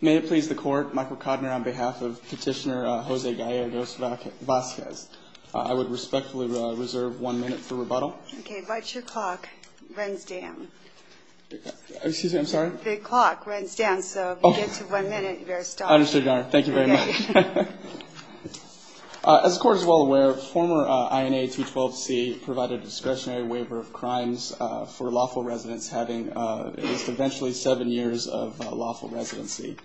May it please the Court, Michael Kodner on behalf of Petitioner Jose Gallegos-Vasquez. I would respectfully reserve one minute for rebuttal. Okay, but your clock runs down. Excuse me, I'm sorry? The clock runs down, so if you get to one minute, you're stopped. Understood, Your Honor. Thank you very much. As the Court is well aware, former INA 212C provided a discretionary waiver of crimes for lawful residents having at least eventually seven years of lawful residency.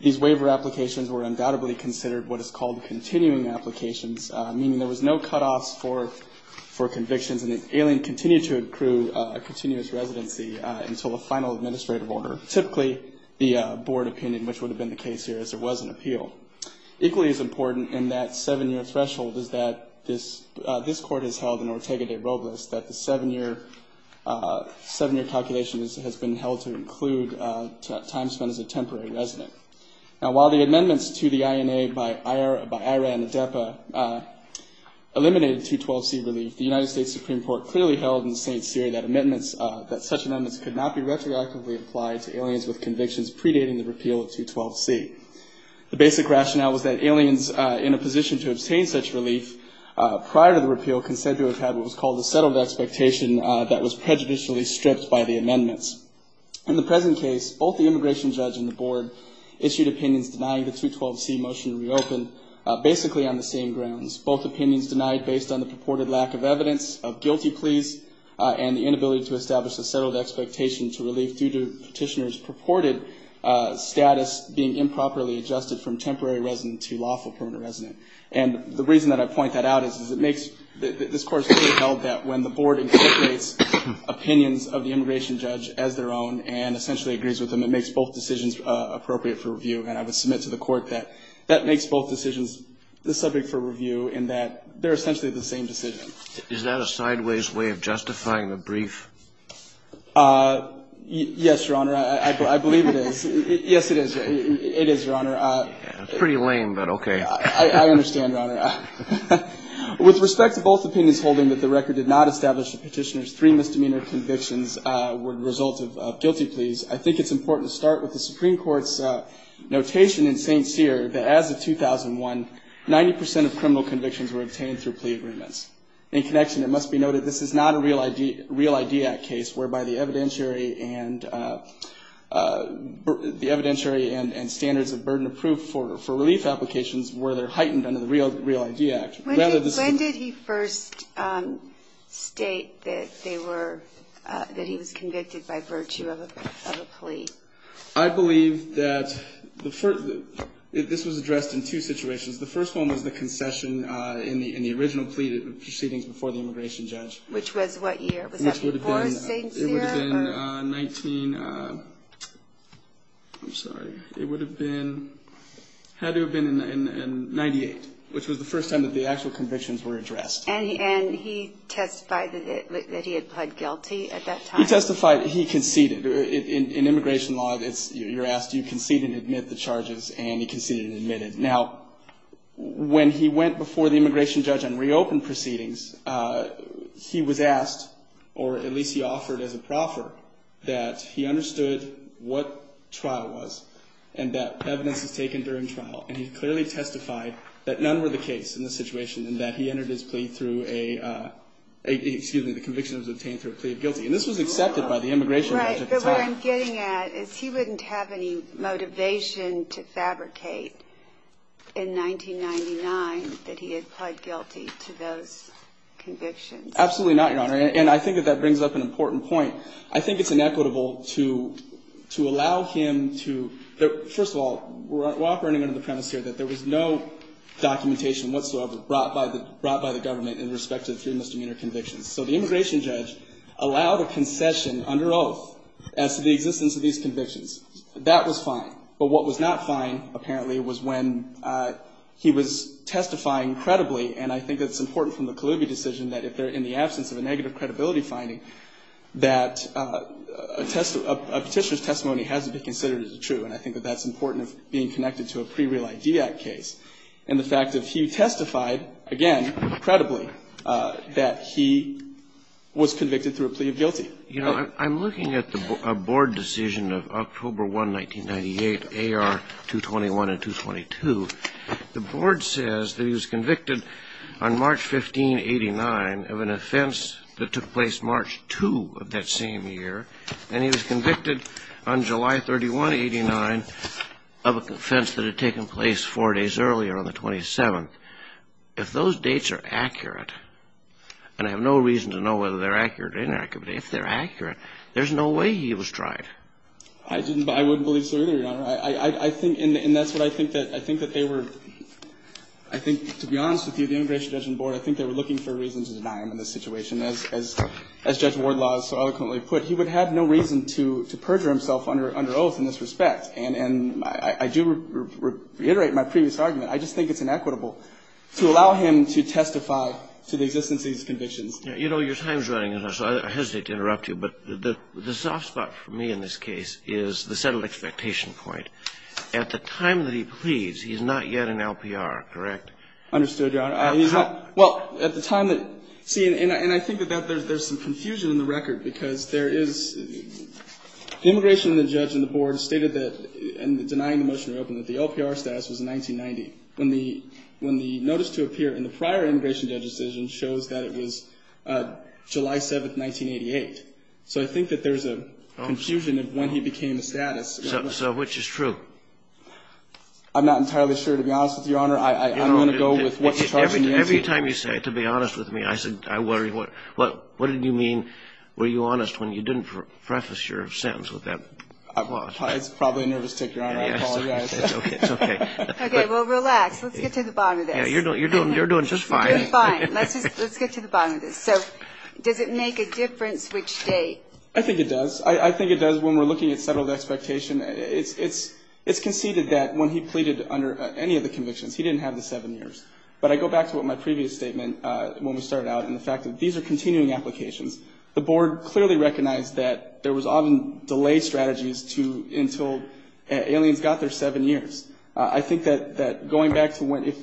These waiver applications were undoubtedly considered what is called continuing applications, meaning there was no cutoffs for convictions, and the alien continued to accrue a continuous residency until a final administrative order, typically the board opinion, which would have been the case here as there was an appeal. Equally as important in that seven-year threshold is that this Court has held in Ortega de Robles that the seven-year calculation has been held to include time spent as a temporary resident. Now, while the amendments to the INA by IRA and ADEPA eliminated 212C relief, the United States Supreme Court clearly held in St. Cyr that such amendments could not be retroactively applied to aliens with convictions predating the repeal of 212C. The basic rationale was that aliens in a position to obtain such relief prior to the repeal considered to have had what was called a settled expectation that was prejudicially stripped by the amendments. In the present case, both the immigration judge and the board issued opinions denying the 212C motion to reopen, basically on the same grounds. Both opinions denied based on the purported lack of evidence of guilty pleas and the inability to establish a settled expectation to relief due to petitioners' purported status being improperly adjusted from temporary resident to lawful permanent resident. And the reason that I point that out is that this Court has held that when the board incorporates opinions of the immigration judge as their own and essentially agrees with them, it makes both decisions appropriate for review. And I would submit to the Court that that makes both decisions the subject for review in that they're essentially the same decision. Is that a sideways way of justifying the brief? Yes, Your Honor. I believe it is. Yes, it is. It is, Your Honor. Pretty lame, but okay. I understand, Your Honor. With respect to both opinions holding that the record did not establish the petitioner's three misdemeanor convictions were the result of guilty pleas, I think it's important to start with the Supreme Court's notation in St. Cyr that as of 2001, 90 percent of criminal convictions were obtained through plea agreements. In connection, it must be noted this is not a Real ID Act case whereby the evidentiary and standards of burden of proof for relief applications were heightened under the Real ID Act. When did he first state that he was convicted by virtue of a plea? I believe that this was addressed in two situations. The first one was the concession in the original plea proceedings before the immigration judge. Which was what year? Was that before St. Cyr? It would have been 1998, which was the first time that the actual convictions were addressed. And he testified that he had pled guilty at that time? He testified. He conceded. In immigration law, you're asked, do you concede and admit the charges? And he conceded and admitted. Now, when he went before the immigration judge and reopened proceedings, he was asked, or at least he offered as a proffer, that he understood what trial was and that evidence was taken during trial. And he clearly testified that none were the case in this situation and that he entered his plea through a, excuse me, the conviction was obtained through a plea of guilty. And this was accepted by the immigration judge at the time. Right, but what I'm getting at is he wouldn't have any motivation to fabricate in 1999 that he had pled guilty to those convictions. Absolutely not, Your Honor. And I think that that brings up an important point. I think it's inequitable to allow him to, first of all, we're operating under the premise here that there was no documentation whatsoever brought by the government in respect to the three misdemeanor convictions. So the immigration judge allowed a concession under oath as to the existence of these convictions. That was fine. But what was not fine, apparently, was when he was testifying credibly, and I think that's important from the Kaloubi decision, that if they're in the absence of a negative credibility finding, that a petitioner's testimony has to be considered as true. And I think that that's important of being connected to a pre-Real Ideact case. And the fact that he testified, again, credibly, that he was convicted through a plea of guilty. You know, I'm looking at a board decision of October 1, 1998, AR 221 and 222. The board says that he was convicted on March 15, 89, of an offense that took place March 2 of that same year, and he was convicted on July 31, 89, of an offense that had taken place four days earlier on the 27th. If those dates are accurate, and I have no reason to know whether they're accurate or inaccurate, but if they're accurate, there's no way he was tried. I didn't, but I wouldn't believe so either, Your Honor. I think, and that's what I think that they were, I think, to be honest with you, the immigration judge and board, I think they were looking for reasons to deny him in this situation. As Judge Wardlaw so eloquently put, he would have no reason to perjure himself under oath in this respect. And I do reiterate my previous argument. I just think it's inequitable to allow him to testify to the existence of these convictions. You know, your time is running out, so I hesitate to interrupt you. But the soft spot for me in this case is the settled expectation point. At the time that he pleads, he's not yet an LPR, correct? Understood, Your Honor. How? Well, at the time that, see, and I think that there's some confusion in the record, because there is, the immigration judge and the board stated that, in denying the motion to reopen, that the LPR status was 1990, when the notice to appear in the prior immigration judge decision shows that it was July 7th, 1988. So I think that there's a confusion of when he became a status. So which is true? I'm not entirely sure, to be honest with you, Your Honor. Every time you say, to be honest with me, I worry, what did you mean, were you honest when you didn't preface your sentence with that? It's probably a nervous tick, Your Honor. I apologize. It's okay. Okay, well, relax. Let's get to the bottom of this. You're doing just fine. I'm doing fine. Let's get to the bottom of this. So does it make a difference which date? I think it does. I think it does when we're looking at settled expectation. It's conceded that when he pleaded under any of the convictions, he didn't have the seven years. But I go back to what my previous statement, when we started out, and the fact that these are continuing applications. The board clearly recognized that there was often delay strategies until aliens got their seven years. I think that going back to if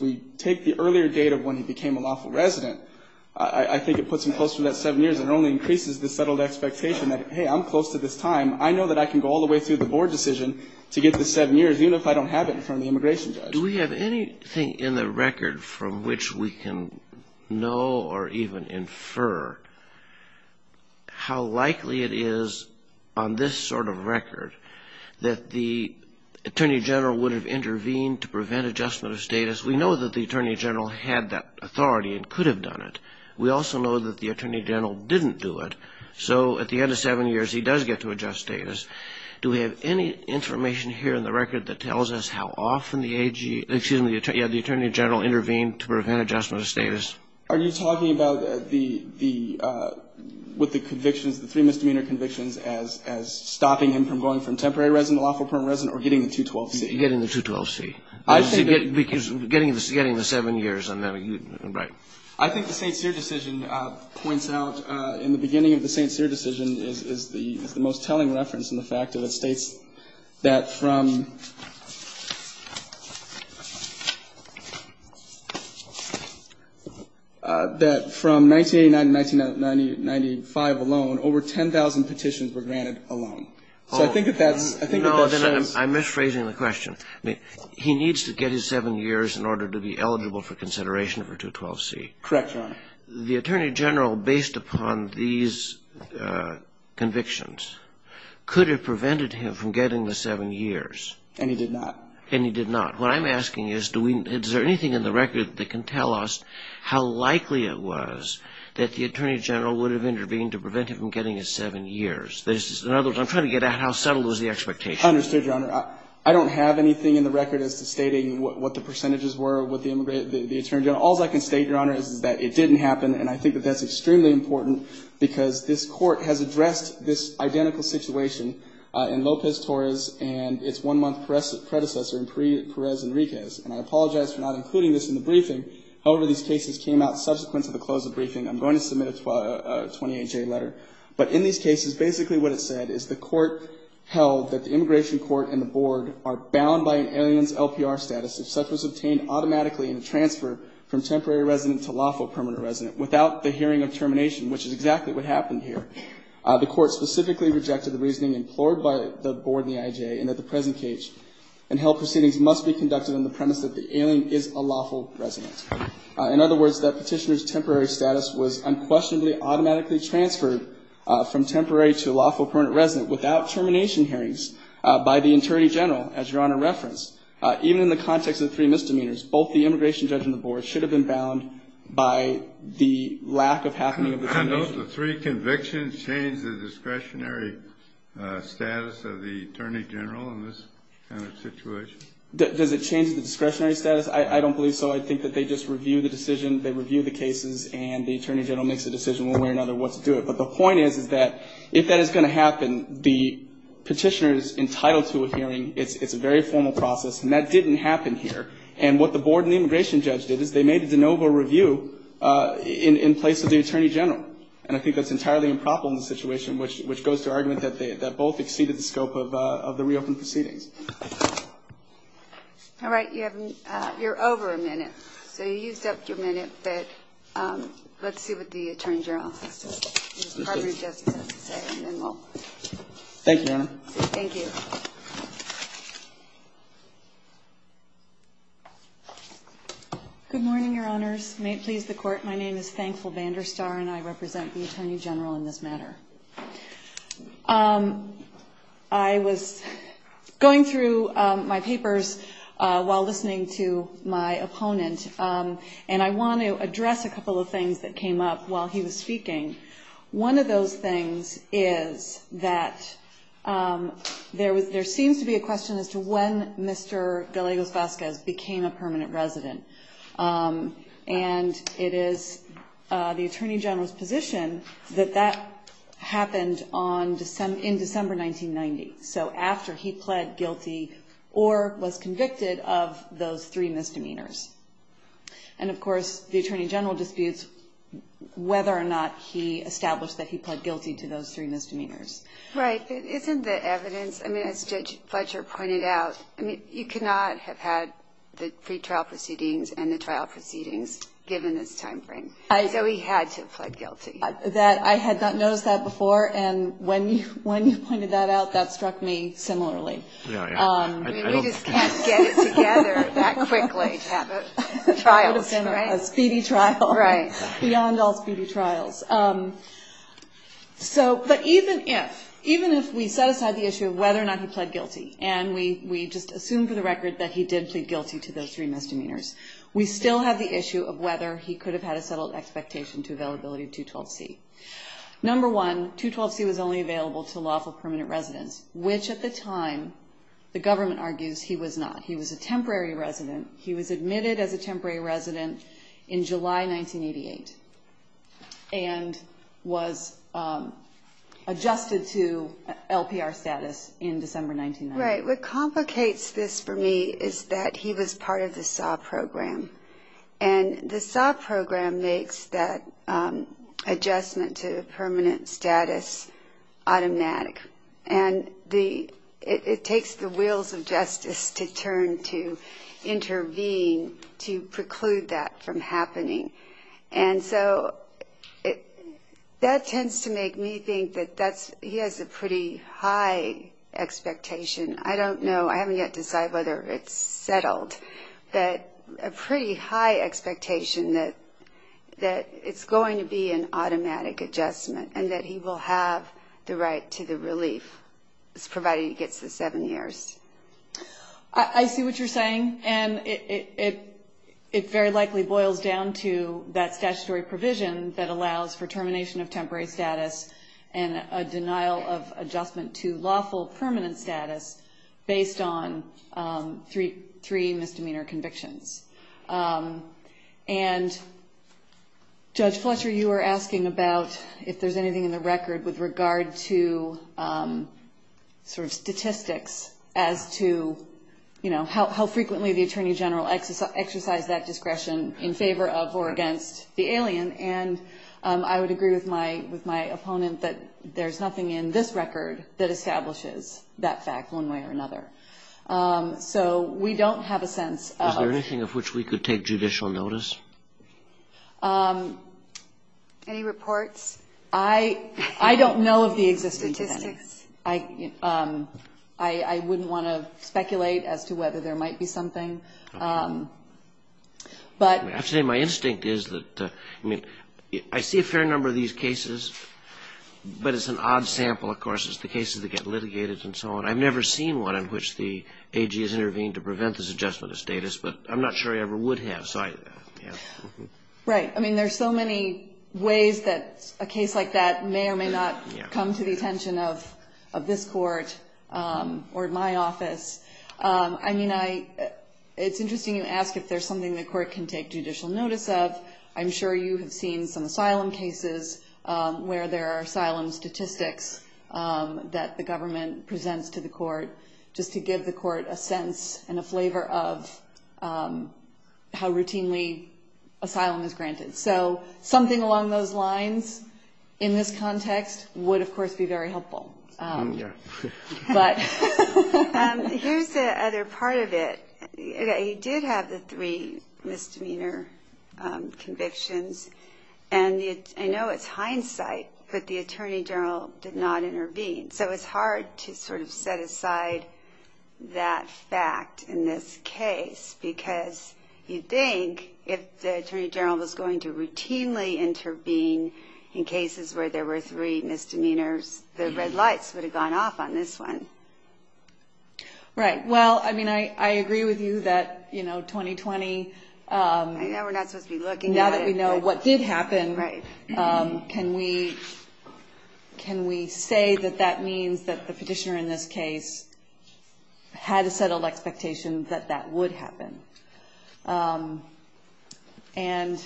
we take the earlier date of when he became a lawful resident, I think it puts him closer to that seven years and only increases the settled expectation that, hey, I'm close to this time. I know that I can go all the way through the board decision to get the seven years, even if I don't have it in front of the immigration judge. Do we have anything in the record from which we can know or even infer how likely it is on this sort of record that the attorney general would have intervened to prevent adjustment of status? We know that the attorney general had that authority and could have done it. We also know that the attorney general didn't do it. So at the end of seven years, he does get to adjust status. Do we have any information here in the record that tells us how often the attorney general intervened to prevent adjustment of status? Are you talking about with the convictions, the three misdemeanor convictions, as stopping him from going from temporary resident to lawful permanent resident or getting the 212C? Getting the 212C. Getting the seven years. I think the St. Cyr decision points out in the beginning of the St. Cyr decision is the most telling reference in the fact that it states that from that from 1989 to 1995 alone, over 10,000 petitions were granted alone. So I think that that's I'm misphrasing the question. He needs to get his seven years in order to be eligible for consideration for 212C. Correct, Your Honor. The attorney general, based upon these convictions, could have prevented him from getting the seven years. And he did not. And he did not. What I'm asking is, is there anything in the record that can tell us how likely it was that the attorney general would have intervened to prevent him from getting his seven years? In other words, I'm trying to get at how subtle is the expectation. I understood, Your Honor. I don't have anything in the record as to stating what the percentages were with the attorney general. All I can state, Your Honor, is that it didn't happen. And I think that that's extremely important because this court has addressed this identical situation in Lopez-Torres and its one-month predecessor in Perez-Enriquez. And I apologize for not including this in the briefing. However, these cases came out subsequent to the close of the briefing. I'm going to submit a 28-J letter. But in these cases, basically what it said is the court held that the immigration court and the board are bound by an alien's LPR status if such was obtained automatically in a transfer from temporary resident to lawful permanent resident without the hearing of termination, which is exactly what happened here. The court specifically rejected the reasoning implored by the board and the IJA, and that the present cage and held proceedings must be conducted on the premise that the alien is a lawful resident. In other words, that petitioner's temporary status was unquestionably automatically transferred from temporary to lawful permanent resident without termination hearings by the attorney general, as Your Honor referenced. Even in the context of three misdemeanors, both the immigration judge and the board should have been bound by the lack of happening of the termination. I note the three convictions change the discretionary status of the attorney general in this kind of situation. Does it change the discretionary status? I don't believe so. I think that they just review the decision, they review the cases, and the attorney general makes a decision one way or another what to do it. But the point is that if that is going to happen, the petitioner is entitled to a hearing. It's a very formal process, and that didn't happen here. And what the board and the immigration judge did is they made a de novo review in place of the attorney general. And I think that's entirely improper in this situation, which goes to argument that both exceeded the scope of the reopened proceedings. All right. You're over a minute. So you used up your minute, but let's see what the attorney general has to say. And then we'll. Thank you, Your Honor. Thank you. Good morning, Your Honors. May it please the Court. My name is Thankful Banderstar, and I represent the attorney general in this matter. I was going through my papers while listening to my opponent, and I want to address a couple of things that came up while he was speaking. One of those things is that there seems to be a question as to when Mr. Galegos-Vazquez became a permanent resident. And it is the attorney general's position that that happened in December 1990, so after he pled guilty or was convicted of those three misdemeanors. And, of course, the attorney general disputes whether or not he established that he pled guilty to those three misdemeanors. Right. Isn't the evidence, I mean, as Judge Fletcher pointed out, I mean, you could not have had the pretrial proceedings and the trial proceedings given this time frame. So he had to have pled guilty. I had not noticed that before, and when you pointed that out, that struck me similarly. Yeah, yeah. I mean, you just can't get it together that quickly to have a trial, right? It would have been a speedy trial. Right. Beyond all speedy trials. But even if we set aside the issue of whether or not he pled guilty, and we just assume for the record that he did plead guilty to those three misdemeanors, we still have the issue of whether he could have had a settled expectation to availability of 212C. Number one, 212C was only available to lawful permanent residents, which at the time the government argues he was not. He was a temporary resident. He was admitted as a temporary resident in July 1988. And was adjusted to LPR status in December 1990. Right. What complicates this for me is that he was part of the SAW program. And the SAW program makes that adjustment to permanent status automatic. And it takes the wheels of justice to turn to intervene to preclude that from happening. And so that tends to make me think that he has a pretty high expectation. I don't know. I haven't yet decided whether it's settled. But a pretty high expectation that it's going to be an automatic adjustment and that he will have the right to the relief, provided he gets the seven years. I see what you're saying. And it very likely boils down to that statutory provision that allows for termination of temporary status and a denial of adjustment to lawful permanent status based on three misdemeanor convictions. And Judge Fletcher, you were asking about if there's anything in the record with regard to sort of statistics as to, you know, how frequently the Attorney General exercised that discretion in favor of or against the alien. And I would agree with my opponent that there's nothing in this record that establishes that fact one way or another. So we don't have a sense. Is there anything of which we could take judicial notice? Any reports? I don't know of the existence of any. Statistics? I wouldn't want to speculate as to whether there might be something. I have to say my instinct is that I see a fair number of these cases, but it's an odd sample, of course. It's the cases that get litigated and so on. I've never seen one in which the AG has intervened to prevent this adjustment of status, but I'm not sure he ever would have. Right. I mean, there's so many ways that a case like that may or may not come to the attention of this court or my office. I mean, it's interesting you ask if there's something the court can take judicial notice of. I'm sure you have seen some asylum cases where there are asylum statistics that the government presents to the court, just to give the court a sense and a flavor of how routinely asylum is granted. So something along those lines in this context would, of course, be very helpful. Here's the other part of it. You did have the three misdemeanor convictions, and I know it's hindsight, but the attorney general did not intervene. So it's hard to sort of set aside that fact in this case, because you'd think if the attorney general was going to routinely intervene in cases where there were three misdemeanors, the red lights would have gone off on this one. Right. Well, I mean, I agree with you that, you know, 2020. I know we're not supposed to be looking at it. We know what did happen. Can we say that that means that the petitioner in this case had a settled expectation that that would happen? And,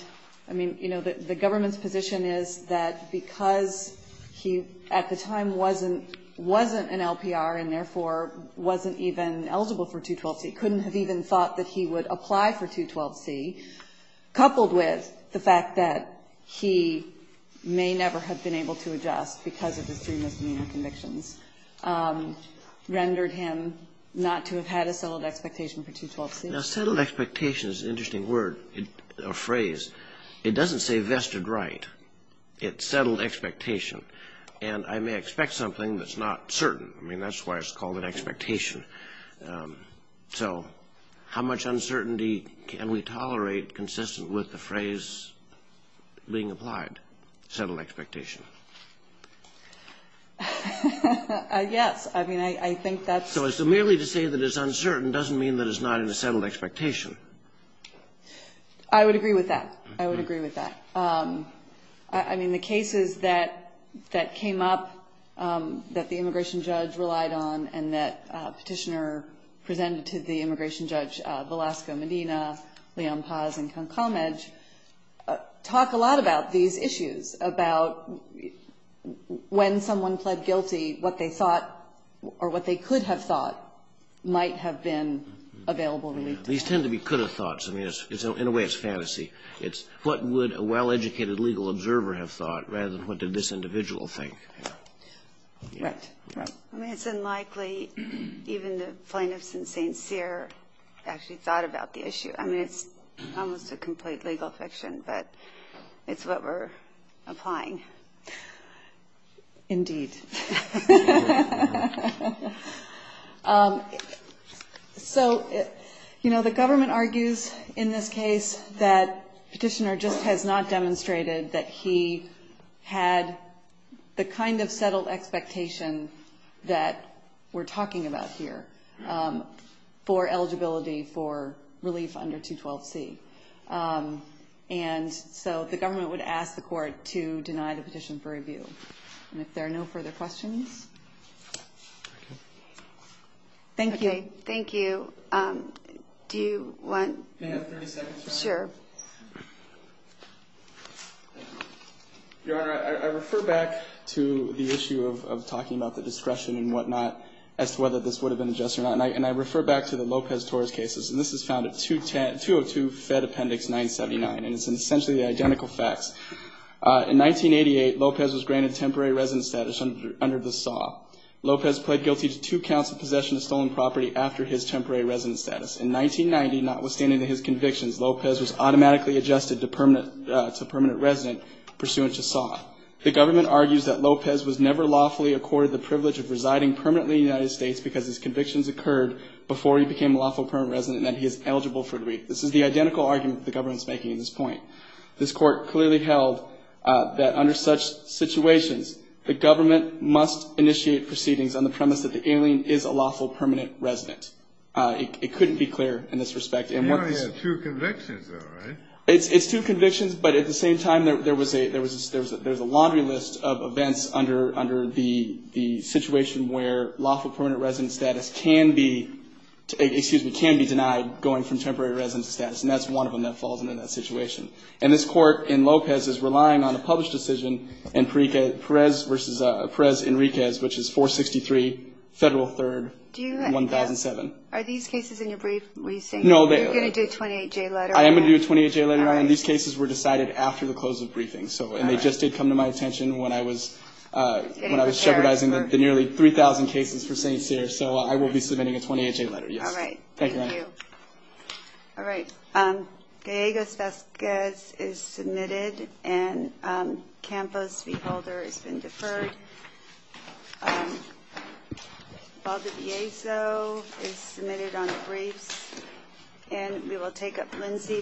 I mean, you know, the government's position is that because he at the time wasn't an LPR and therefore wasn't even eligible for 212C, couldn't have even thought that he would apply for 212C, coupled with the fact that he may never have been able to adjust because of his three misdemeanor convictions, rendered him not to have had a settled expectation for 212C. Now, settled expectation is an interesting word, a phrase. It doesn't say vested right. It's settled expectation. And I may expect something that's not certain. I mean, that's why it's called an expectation. So how much uncertainty can we tolerate consistent with the phrase being applied, settled expectation? Yes. I mean, I think that's. So merely to say that it's uncertain doesn't mean that it's not in a settled expectation. I would agree with that. I would agree with that. I mean, the cases that came up that the immigration judge relied on and that Petitioner presented to the immigration judge, Velasco Medina, Leon Paz, and Ken Comedge, talk a lot about these issues, about when someone pled guilty, what they thought or what they could have thought might have been available. These tend to be could have thoughts. I mean, in a way, it's fantasy. It's what would a well-educated legal observer have thought rather than what did this individual think. Right. I mean, it's unlikely even the plaintiffs in St. Cyr actually thought about the issue. I mean, it's almost a complete legal fiction, but it's what we're applying. Indeed. So, you know, the government argues in this case that Petitioner just has not demonstrated that he had the kind of settled expectation that we're talking about here for eligibility for relief under 212C. And so the government would ask the court to deny the petition for review. And if there are no further questions. Thank you. Okay. Thank you. Do you want? Can I have 30 seconds? Sure. Your Honor, I refer back to the issue of talking about the discretion and whatnot as to whether this would have been adjusted or not, and I refer back to the Lopez-Torres cases, and this is found at 202 Fed Appendix 979, and it's essentially the identical facts. In 1988, Lopez was granted temporary residence status under the SAW. Lopez pled guilty to two counts of possession of stolen property after his temporary residence status. In 1990, notwithstanding his convictions, Lopez was automatically adjusted to permanent resident pursuant to SAW. The government argues that Lopez was never lawfully accorded the privilege of residing permanently in the United States because his convictions occurred before he became a lawful permanent resident and that he is eligible for relief. This is the identical argument the government is making in this point. This Court clearly held that under such situations, the government must initiate proceedings on the premise that the alien is a lawful permanent resident. It couldn't be clearer in this respect. And one of his two convictions, though, right? It's two convictions, but at the same time, there was a laundry list of events under the situation where lawful permanent resident status can be denied going from temporary residence status, and that's one of them that falls under that situation. And this Court in Lopez is relying on a published decision in Perez v. Perez-Enriquez, which is 463 Federal 3rd, 1007. Are these cases in your brief? No. You're going to do a 28-J letter. I am going to do a 28-J letter. These cases were decided after the close of the briefing, and they just did come to my attention when I was jeopardizing the nearly 3,000 cases for St. Cyr. So I will be submitting a 28-J letter, yes. All right. Thank you. Thank you. All right. Gallegos-Vazquez is submitted, and Campos v. Holder has been deferred. Valdeviezo is submitted on the briefs. And we will take up Lindsey.